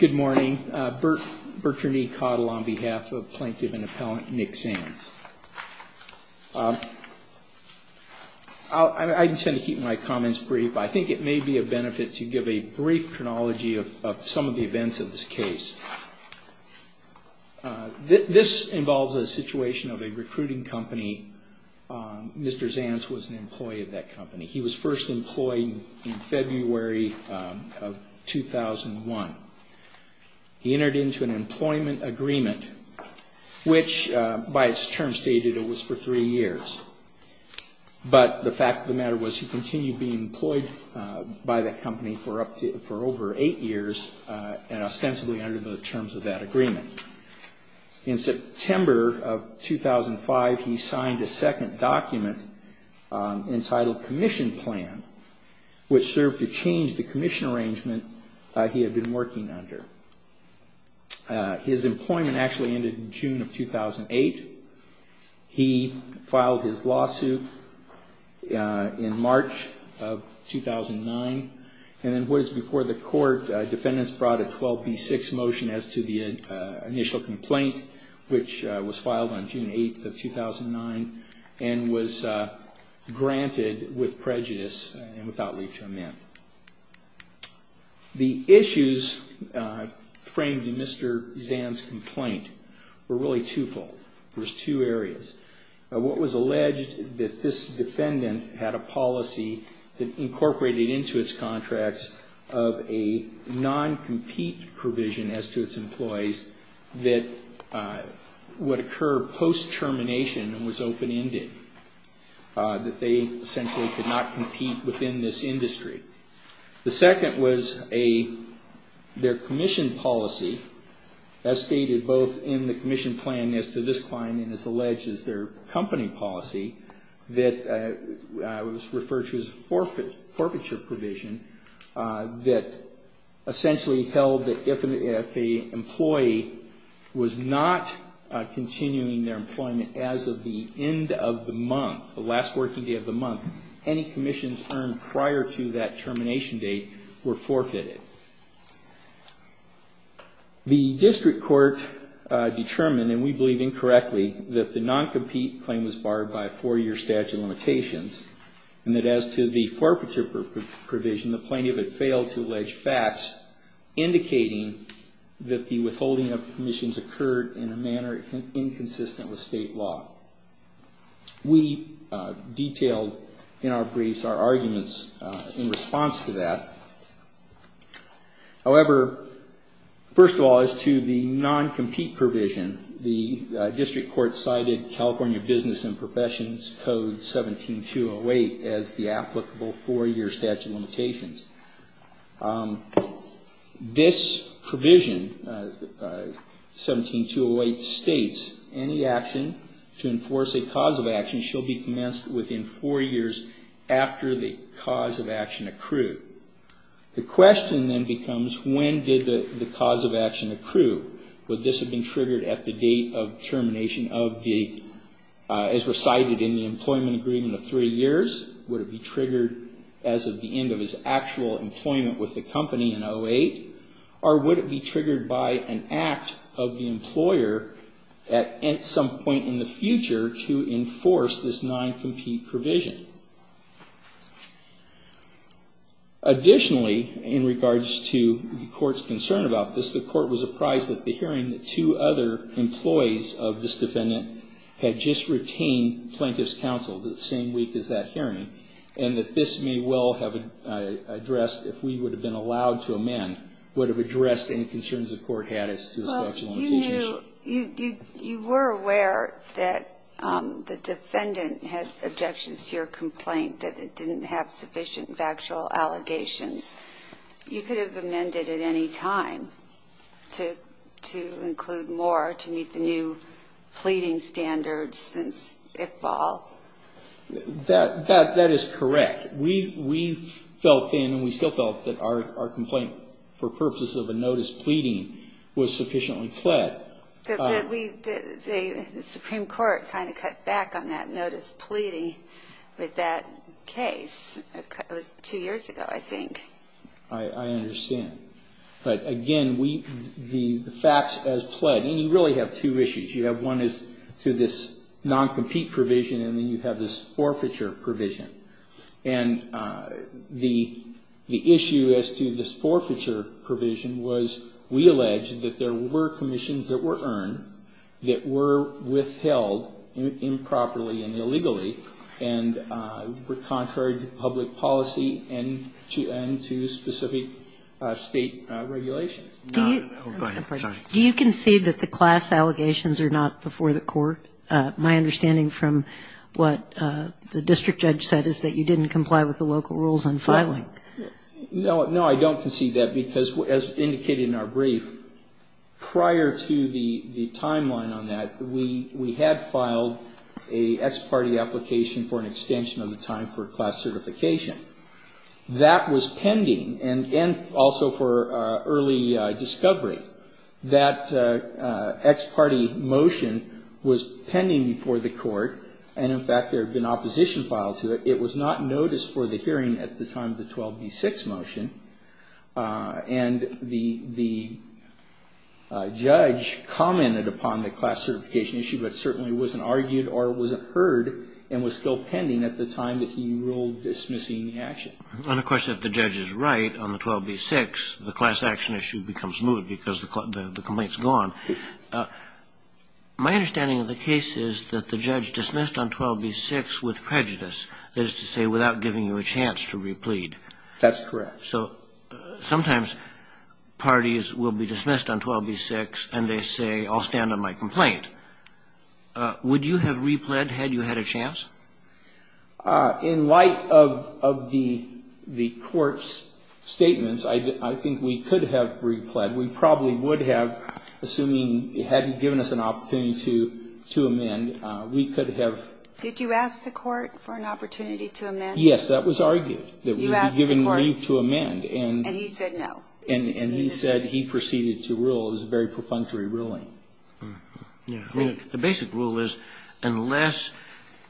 Good morning, Bert Bertranee Cottle on behalf of Plaintiff and Appellant Nick Zanze. I intend to keep my comments brief. I think it may be a benefit to give a brief chronology of some of the events of this case. This involves a situation of a recruiting company. Mr. Zanze was an employee of that company. He was first employed in February of 2001. He entered into an employment agreement, which by its term stated it was for three years. But the fact of the matter was he continued being employed by the company for over eight years and ostensibly under the terms of that agreement. In September of 2005, he signed a second document entitled Commission Plan, which served to change the commission arrangement he had been working under. His employment actually ended in June of 2008. He filed his lawsuit in March of 2009. And then what is before the court, defendants brought a 12B6 motion as to the initial complaint, which was filed on June 8th of 2009, and was granted with prejudice and without leave to amend. The issues framed in Mr. Zanze's complaint were really twofold. There were two areas. What was alleged that this defendant had a policy that incorporated into its contracts of a non-compete provision as to its employees that would occur post-termination and was open-ended, that they essentially could not compete within this industry. The second was their commission policy, as stated both in the commission plan as to this client and as alleged as their company policy, that was referred to as a forfeiture provision that essentially held that if an employee was not continuing their employment as of the end of the month, the last working day of the month, any commissions earned prior to that termination date were forfeited. The district court determined, and we believe incorrectly, that the non-compete claim was barred by a four-year statute of limitations, and that as to the forfeiture provision, the plaintiff had failed to allege facts indicating that the withholding of commissions occurred in a manner inconsistent with state law. We detailed in our briefs our arguments in response to that. However, first of all, as to the non-compete provision, the district court cited California Business and Professions Code 17-208 as the applicable four-year statute of limitations. This provision, 17-208, states, any action to enforce a cause of action shall be commenced within four years after the cause of action accrued. The question then becomes, when did the cause of action accrue? Would this have been triggered at the date of termination of the, as recited in the employment agreement of three years? Would it be triggered as of the end of his actual employment with the company in 08? Or would it be triggered by an act of the employer at some point in the future to enforce this non-compete provision? Additionally, in regards to the court's concern about this, the court was apprised at the hearing that two other employees of this firm had just retained plaintiff's counsel the same week as that hearing, and that this may well have addressed, if we would have been allowed to amend, would have addressed any concerns the court had as to the statute of limitations. Well, you knew, you were aware that the defendant had objections to your complaint, that it didn't have sufficient factual allegations. You could have amended at any time to include more, to meet the new pleading standards since Iqbal. That is correct. We felt then, and we still felt, that our complaint, for purposes of a notice pleading, was sufficiently pled. The Supreme Court kind of cut back on that notice pleading with that case. It was two years ago, I think. I understand. But again, the facts as pled. And you really have two issues. You have one as to this non-compete provision, and then you have this forfeiture provision. And the issue as to this forfeiture provision was, we alleged, that there were commissions that were earned, that were withheld improperly and illegally, and were contrary to public policy and to specific state regulations. Do you concede that the class allegations are not before the court? My understanding from what the district judge said is that you didn't comply with the local rules on filing. No, I don't concede that, because as indicated in our brief, prior to the timeline on that, we had filed an ex parte application for an extension of the time for class certification. That was pending, and also for early discovery. That ex parte motion was pending before the court, and in fact, there had been opposition filed to it. It was not noticed for the hearing at the time of the 12b-6 motion, and the judge commented upon the class certification issue, but certainly wasn't argued or wasn't heard and was still pending at the time that he ruled dismissing the action. And of course, if the judge is right on the 12b-6, the class action issue becomes moot because the complaint is gone. My understanding of the case is that the judge dismissed on 12b-6 with prejudice, that is to say, without giving you a chance to replead. That's correct. So sometimes parties will be dismissed on 12b-6, and they say, I'll stand on my complaint. Would you have replead had you had a chance? In light of the court's statements, I think we could have replead. We probably would have, assuming it hadn't given us an opportunity to amend, we could have. Did you ask the court for an opportunity to amend? Yes, that was argued, that we would be given leave to amend. And he said no. And he said he proceeded to rule. It was a very perfunctory ruling. The basic rule is, unless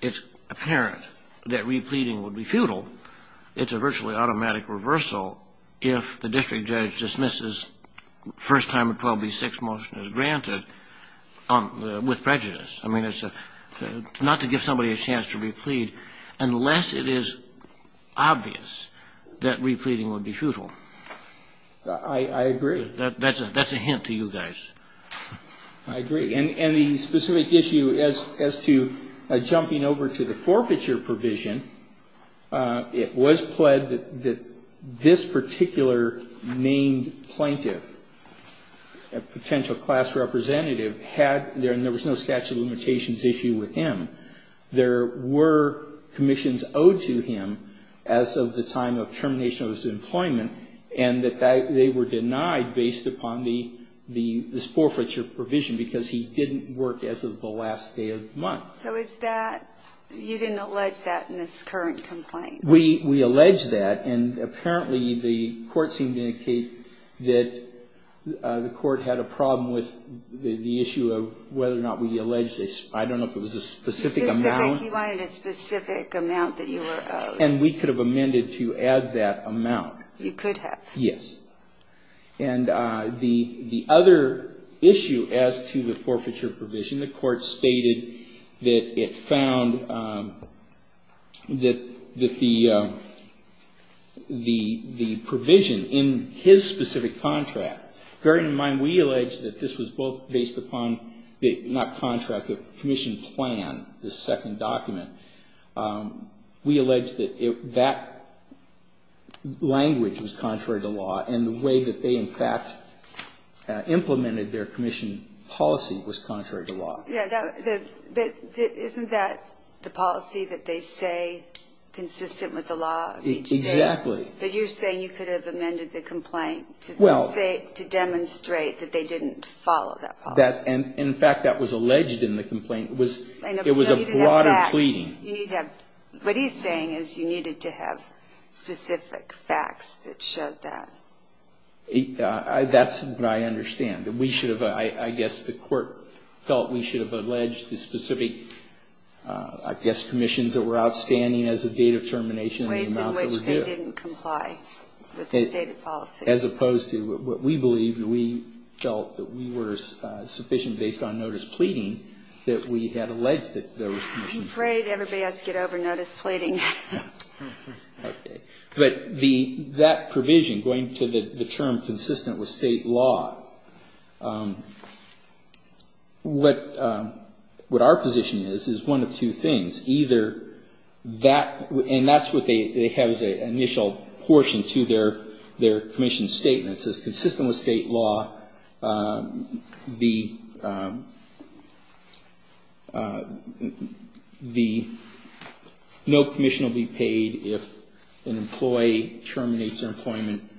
it's apparent that repleading would be futile, it's a virtually automatic reversal if the district judge dismisses the first time a 12b-6 motion is granted with prejudice. I mean, it's not to give somebody a chance to replead unless it is obvious that repleading would be futile. I agree. That's a hint to you guys. I agree. And the specific issue as to jumping over to the forfeiture provision, it was pled that this particular named plaintiff, a potential class representative, there was no statute of limitations issue with him. There were commissions owed to him as of the time of termination of his employment, and that they were denied based upon this forfeiture provision because he didn't work as of the last day of the month. So is that you didn't allege that in this current complaint? We allege that. And apparently the court seemed to indicate that the court had a problem with the issue of whether or not we allege this. I don't know if it was a specific amount. Specific. He wanted a specific amount that you were owed. And we could have amended to add that amount. You could have. Yes. And the other issue as to the forfeiture provision, the court stated that it found that the provision in his specific contract, bearing in mind we allege that this was both based upon not contract, but commission plan, the second document, we allege that that language was contrary to law. And the way that they in fact implemented their commission policy was contrary to law. Yes. But isn't that the policy that they say consistent with the law of each state? Exactly. But you're saying you could have amended the complaint to say, to demonstrate that they didn't follow that policy. In fact, that was alleged in the complaint. It was a broader pleading. What he's saying is you needed to have specific facts that showed that. That's what I understand. We should have, I guess the court felt we should have alleged the specific, I guess, commissions that were outstanding as a date of termination. Ways in which they didn't comply with the stated policy. As opposed to what we believed and we felt that we were sufficient based on notice pleading that we had alleged that there was commission. I'm afraid everybody has to get over notice pleading. Okay. But that provision, going to the term consistent with state law, what our position is, is one of two things. Either that, and that's what they have as an initial portion to their commission statement. It says consistent with state law, the, no commission will be paid if an employee terminates their employment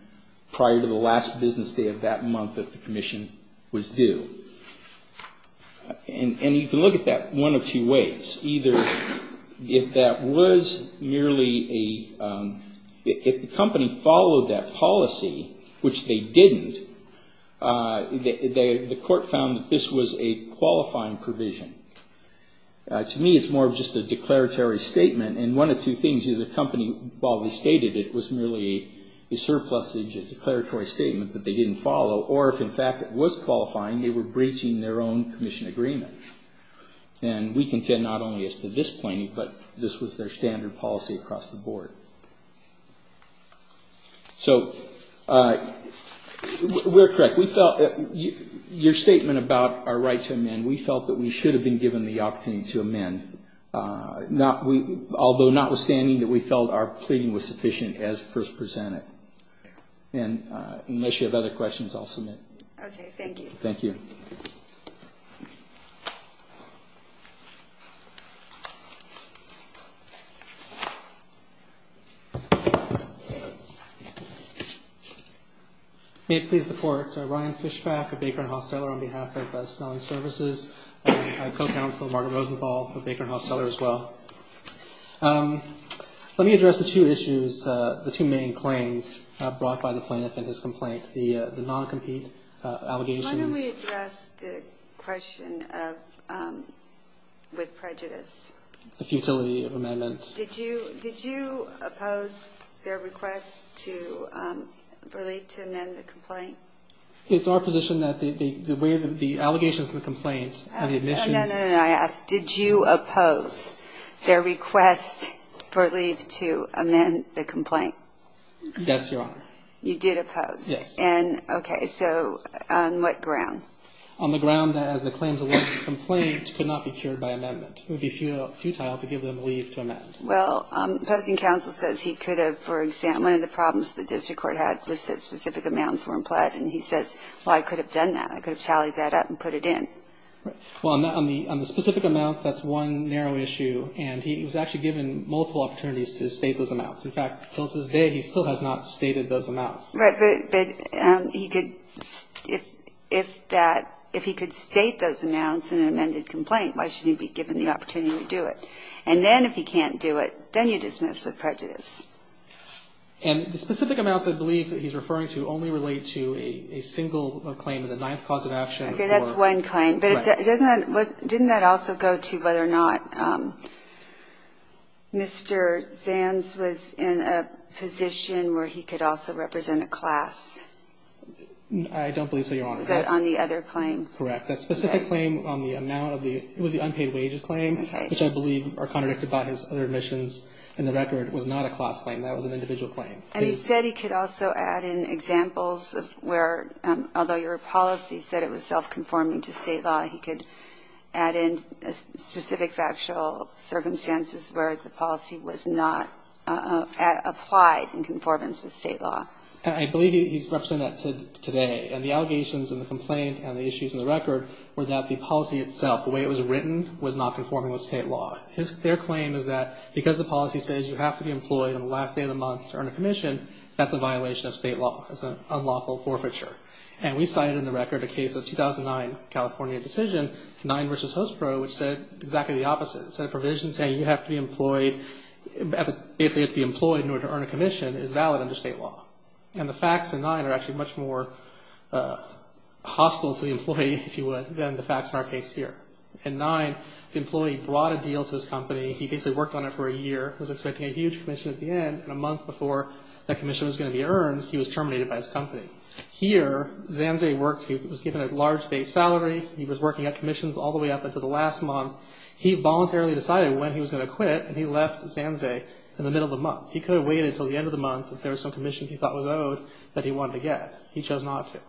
prior to the last business day of that month that the commission was due. And you can look at that one of two ways. Either if that was merely a, if the company followed that policy, which they didn't, the court found that this was a qualifying provision. To me it's more of just a declaratory statement. And one of two things. Either the company, while we stated it was merely a surplusage, a declaratory statement that they didn't follow. Or if in fact it was qualifying, they were breaching their own commission agreement. And we contend not only as to this plaintiff, but this was their standard policy across the board. So we're correct. We felt, your statement about our right to amend, we felt that we should have been given the opportunity to amend. Not, although notwithstanding that we felt our pleading was sufficient as first presented. And unless you have other questions, I'll submit. Okay, thank you. Thank you. May it please the court. Ryan Fischbach of Baker & Hosteller on behalf of Selling Services. I have co-counsel Margaret Rosenthal of Baker & Hosteller as well. Let me address the two issues, the two main claims brought by the plaintiff in his complaint. The non-compete allegations. Why don't we address the question of with prejudice. The futility of amendment. Did you oppose their request to relate to amend the complaint? It's our position that the way the allegations in the complaint and the admissions. I asked, did you oppose their request for leave to amend the complaint? Yes, Your Honor. You did oppose. Yes. And, okay, so on what ground? On the ground that as the claims alleged in the complaint could not be cured by amendment. It would be futile to give them leave to amend. Well, opposing counsel says he could have, for example, one of the problems the district court had was that specific amounts were implied. And he says, well, I could have done that. I could have tallied that up and put it in. Well, on the specific amount, that's one narrow issue. And he was actually given multiple opportunities to state those amounts. In fact, to this day, he still has not stated those amounts. Right. But he could, if that, if he could state those amounts in an amended complaint, why shouldn't he be given the opportunity to do it? And then if he can't do it, then you dismiss with prejudice. And the specific amounts I believe that he's referring to only relate to a single claim in the ninth cause of action. Okay. That's one claim. But didn't that also go to whether or not Mr. Zanz was in a position where he could also represent a class? I don't believe so, Your Honor. Was that on the other claim? Correct. That specific claim on the amount of the, it was the unpaid wages claim, which I believe are contradicted by his other admissions in the record, was not a class claim. That was an individual claim. And he said he could also add in examples of where, although your policy said it was self-conforming to state law, he could add in specific factual circumstances where the policy was not applied in conformance with state law. I believe he's representing that today. And the allegations in the complaint and the issues in the record were that the policy itself, the way it was written, was not conforming with state law. Their claim is that because the policy says you have to be employed on the last day of the month to earn a commission, that's a violation of state law. That's an unlawful forfeiture. And we cited in the record a case of 2009, California decision, NINE versus HOSPRO, which said exactly the opposite. It said a provision saying you have to be employed, basically have to be employed in order to earn a commission, is valid under state law. And the facts in NINE are actually much more hostile to the employee, if you would, than the facts in our case here. In NINE, the employee brought a deal to his company. He basically worked on it for a year, was expecting a huge commission at the end, and a month before that commission was going to be earned, he was terminated by his company. Here, Zanzay worked. He was given a large base salary. He was working at commissions all the way up until the last month. He voluntarily decided when he was going to quit, and he left Zanzay in the middle of the month. He could have waited until the end of the month if there was some commission he thought was owed that he wanted to get. He chose not to.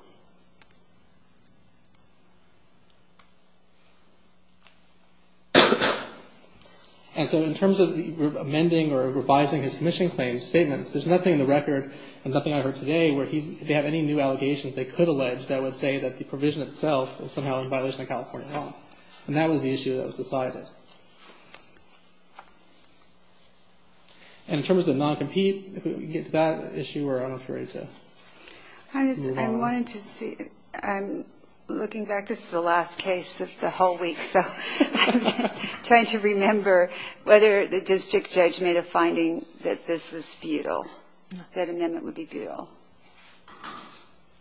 And so in terms of amending or revising his commissioning claims, statements, there's nothing in the record and nothing I heard today where they have any new allegations they could allege that would say that the provision itself is somehow in violation of California law. And that was the issue that was decided. And in terms of the non-compete, if we can get to that issue, or I'm afraid to move on. I wanted to see, I'm looking back, this is the last case of the whole week, so I'm trying to remember whether the district judge made a finding that this was futile, that amendment would be futile.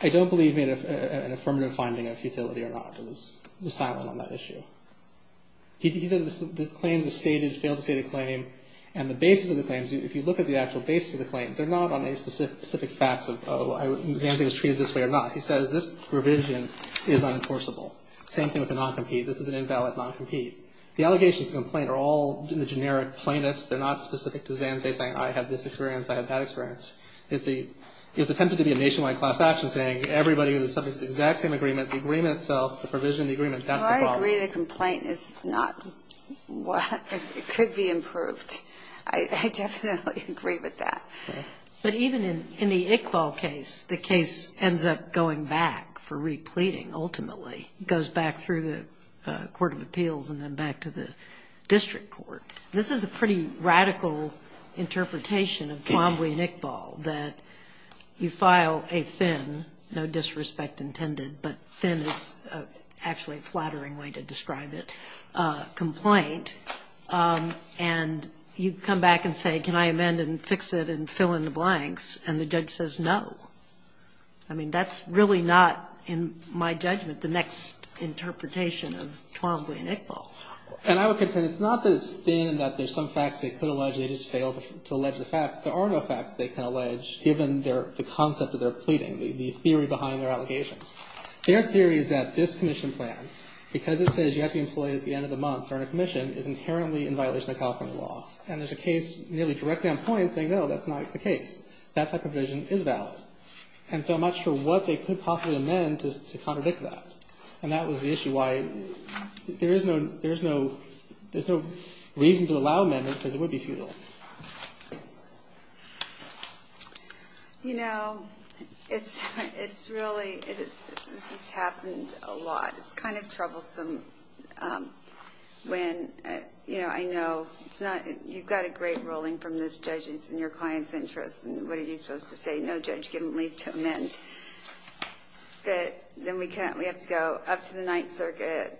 I don't believe he made an affirmative finding of futility or not. It was silent on that issue. He said the claims are stated, failed to state a claim, and the basis of the claims, if you look at the actual basis of the claims, they're not on any specific facts of Zanzay was treated this way or not. He says this provision is unenforceable. Same thing with the non-compete. This is an invalid non-compete. The allegations and complaint are all in the generic plainness. They're not specific to Zanzay saying I had this experience, I had that experience. It's attempted to be a nationwide class action saying everybody who's subject to the exact same agreement, the agreement itself, the provision of the agreement, that's the problem. I agree the complaint is not, it could be improved. I definitely agree with that. But even in the Iqbal case, the case ends up going back for repleting, ultimately. It goes back through the court of appeals and then back to the district court. This is a pretty radical interpretation of Twombly and Iqbal, that you file a thin, no disrespect intended, but thin is actually a flattering way to describe it, complaint, and you come back and say can I amend and fix it and fill in the blanks, and the judge says no. I mean, that's really not, in my judgment, the next interpretation of Twombly and Iqbal. And I would contend it's not that it's thin, that there's some facts they could allege, they just fail to allege the facts. There are no facts they can allege, given the concept of their pleading, the theory behind their allegations. Their theory is that this commission plan, because it says you have to be employed at the end of the month or in a commission, is inherently in violation of California law. And there's a case nearly directly on point saying no, that's not the case. That type of provision is valid. And so I'm not sure what they could possibly amend to contradict that. And that was the issue, why there's no reason to allow amendment because it would be futile. You know, it's really, this has happened a lot. It's kind of troublesome when, you know, I know it's not, you've got a great ruling from this judge and it's in your client's interest, and what are you supposed to say? No judge, give them leave to amend. But then we have to go up to the Ninth Circuit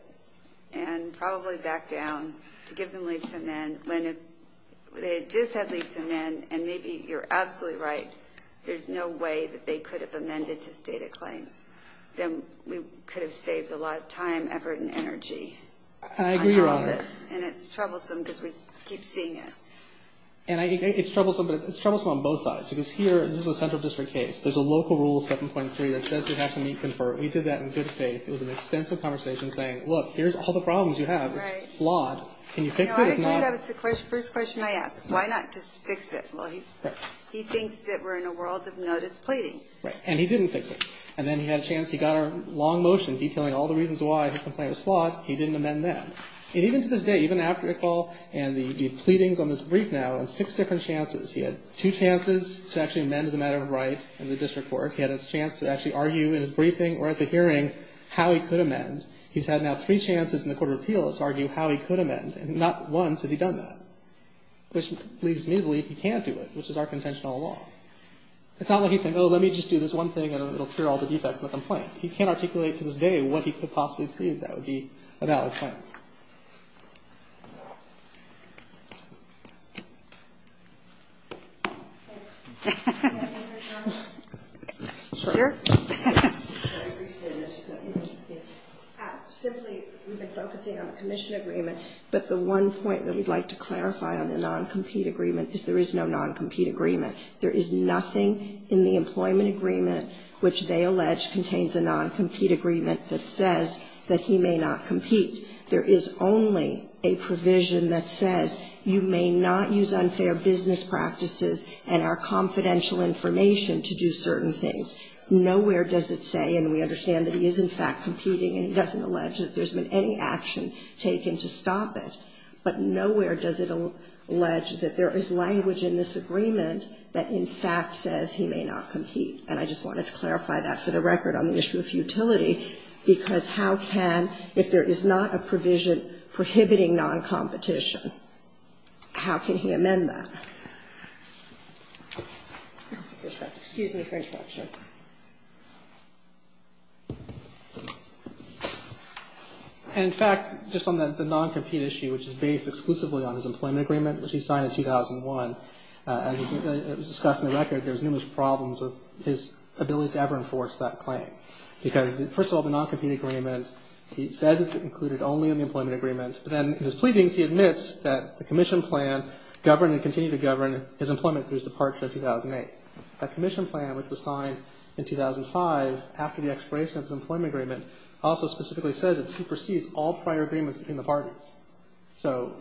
and probably back down to give them leave to amend. When they just had leave to amend, and maybe you're absolutely right, there's no way that they could have amended to state a claim. Then we could have saved a lot of time, effort, and energy. And I agree, Your Honor. And it's troublesome because we keep seeing it. And it's troublesome, but it's troublesome on both sides. Because here, this is a central district case. There's a local rule 7.3 that says you have to meet, confer. We did that in good faith. It was an extensive conversation saying, look, here's all the problems you have. It's flawed. Can you fix it or not? No, I agree. That was the first question I asked. Why not just fix it? Well, he thinks that we're in a world of notice pleading. Right. And he didn't fix it. And then he had a chance. He got a long motion detailing all the reasons why his complaint was flawed. He didn't amend that. And even to this day, even after the call and the pleadings on this brief now, on six different chances, he had two chances to actually amend as a matter of right in the district court. He had a chance to actually argue in his briefing or at the hearing how he could amend. He's had now three chances in the court of appeals to argue how he could amend. And not once has he done that, which leads me to believe he can't do it, which is our contentional law. It's not like he's saying, oh, let me just do this one thing, and it'll cure all the defects in the complaint. He can't articulate to this day what he could possibly prove that would be a valid point. Thank you. Can I get your comments? Sure. Simply, we've been focusing on the commission agreement, but the one point that we'd like to clarify on the non-compete agreement is there is no non-compete agreement. There is no non-compete agreement that says that he may not compete. There is only a provision that says you may not use unfair business practices and our confidential information to do certain things. Nowhere does it say, and we understand that he is, in fact, competing, and he doesn't allege that there's been any action taken to stop it. But nowhere does it allege that there is language in this agreement that, in fact, says he may not compete. And I just wanted to clarify that for the record on the issue of utility, because how can, if there is not a provision prohibiting non-competition, how can he amend that? Excuse me for interruption. In fact, just on the non-compete issue, which is based exclusively on his employment agreement, which he signed in 2001, as discussed in the record, there's numerous problems with his ability to ever enforce that claim. Because, first of all, the non-compete agreement, he says it's included only in the employment agreement, but then in his pleadings he admits that the commission plan governed and continued to govern his employment through his departure in 2008. That commission plan, which was signed in 2005, after the expiration of his employment agreement, also specifically says it supersedes all prior agreements between the parties. So,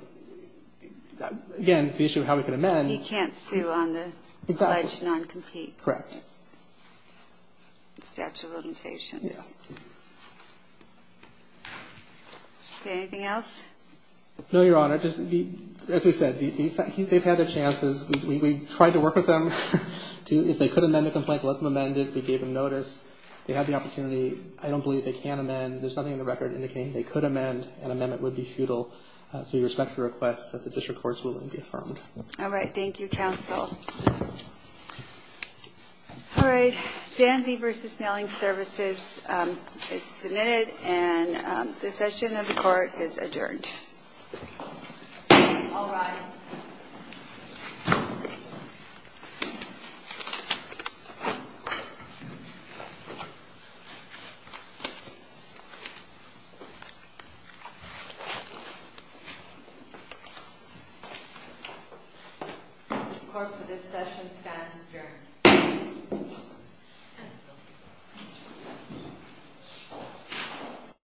again, it's the issue of how we can amend. He can't sue on the alleged non-compete. Correct. The statute of limitations. Yeah. Is there anything else? No, Your Honor. As we said, they've had their chances. We tried to work with them to, if they could amend the complaint, let them amend it. We gave them notice. They had the opportunity. I don't believe they can amend. There's nothing in the record indicating they could amend. An amendment would be futile. So we respectfully request that the district court's ruling be affirmed. All right. Thank you, counsel. All right. Sands v. Knelling Services is submitted, and this session of the court is adjourned. All rise. This court for this session stands adjourned.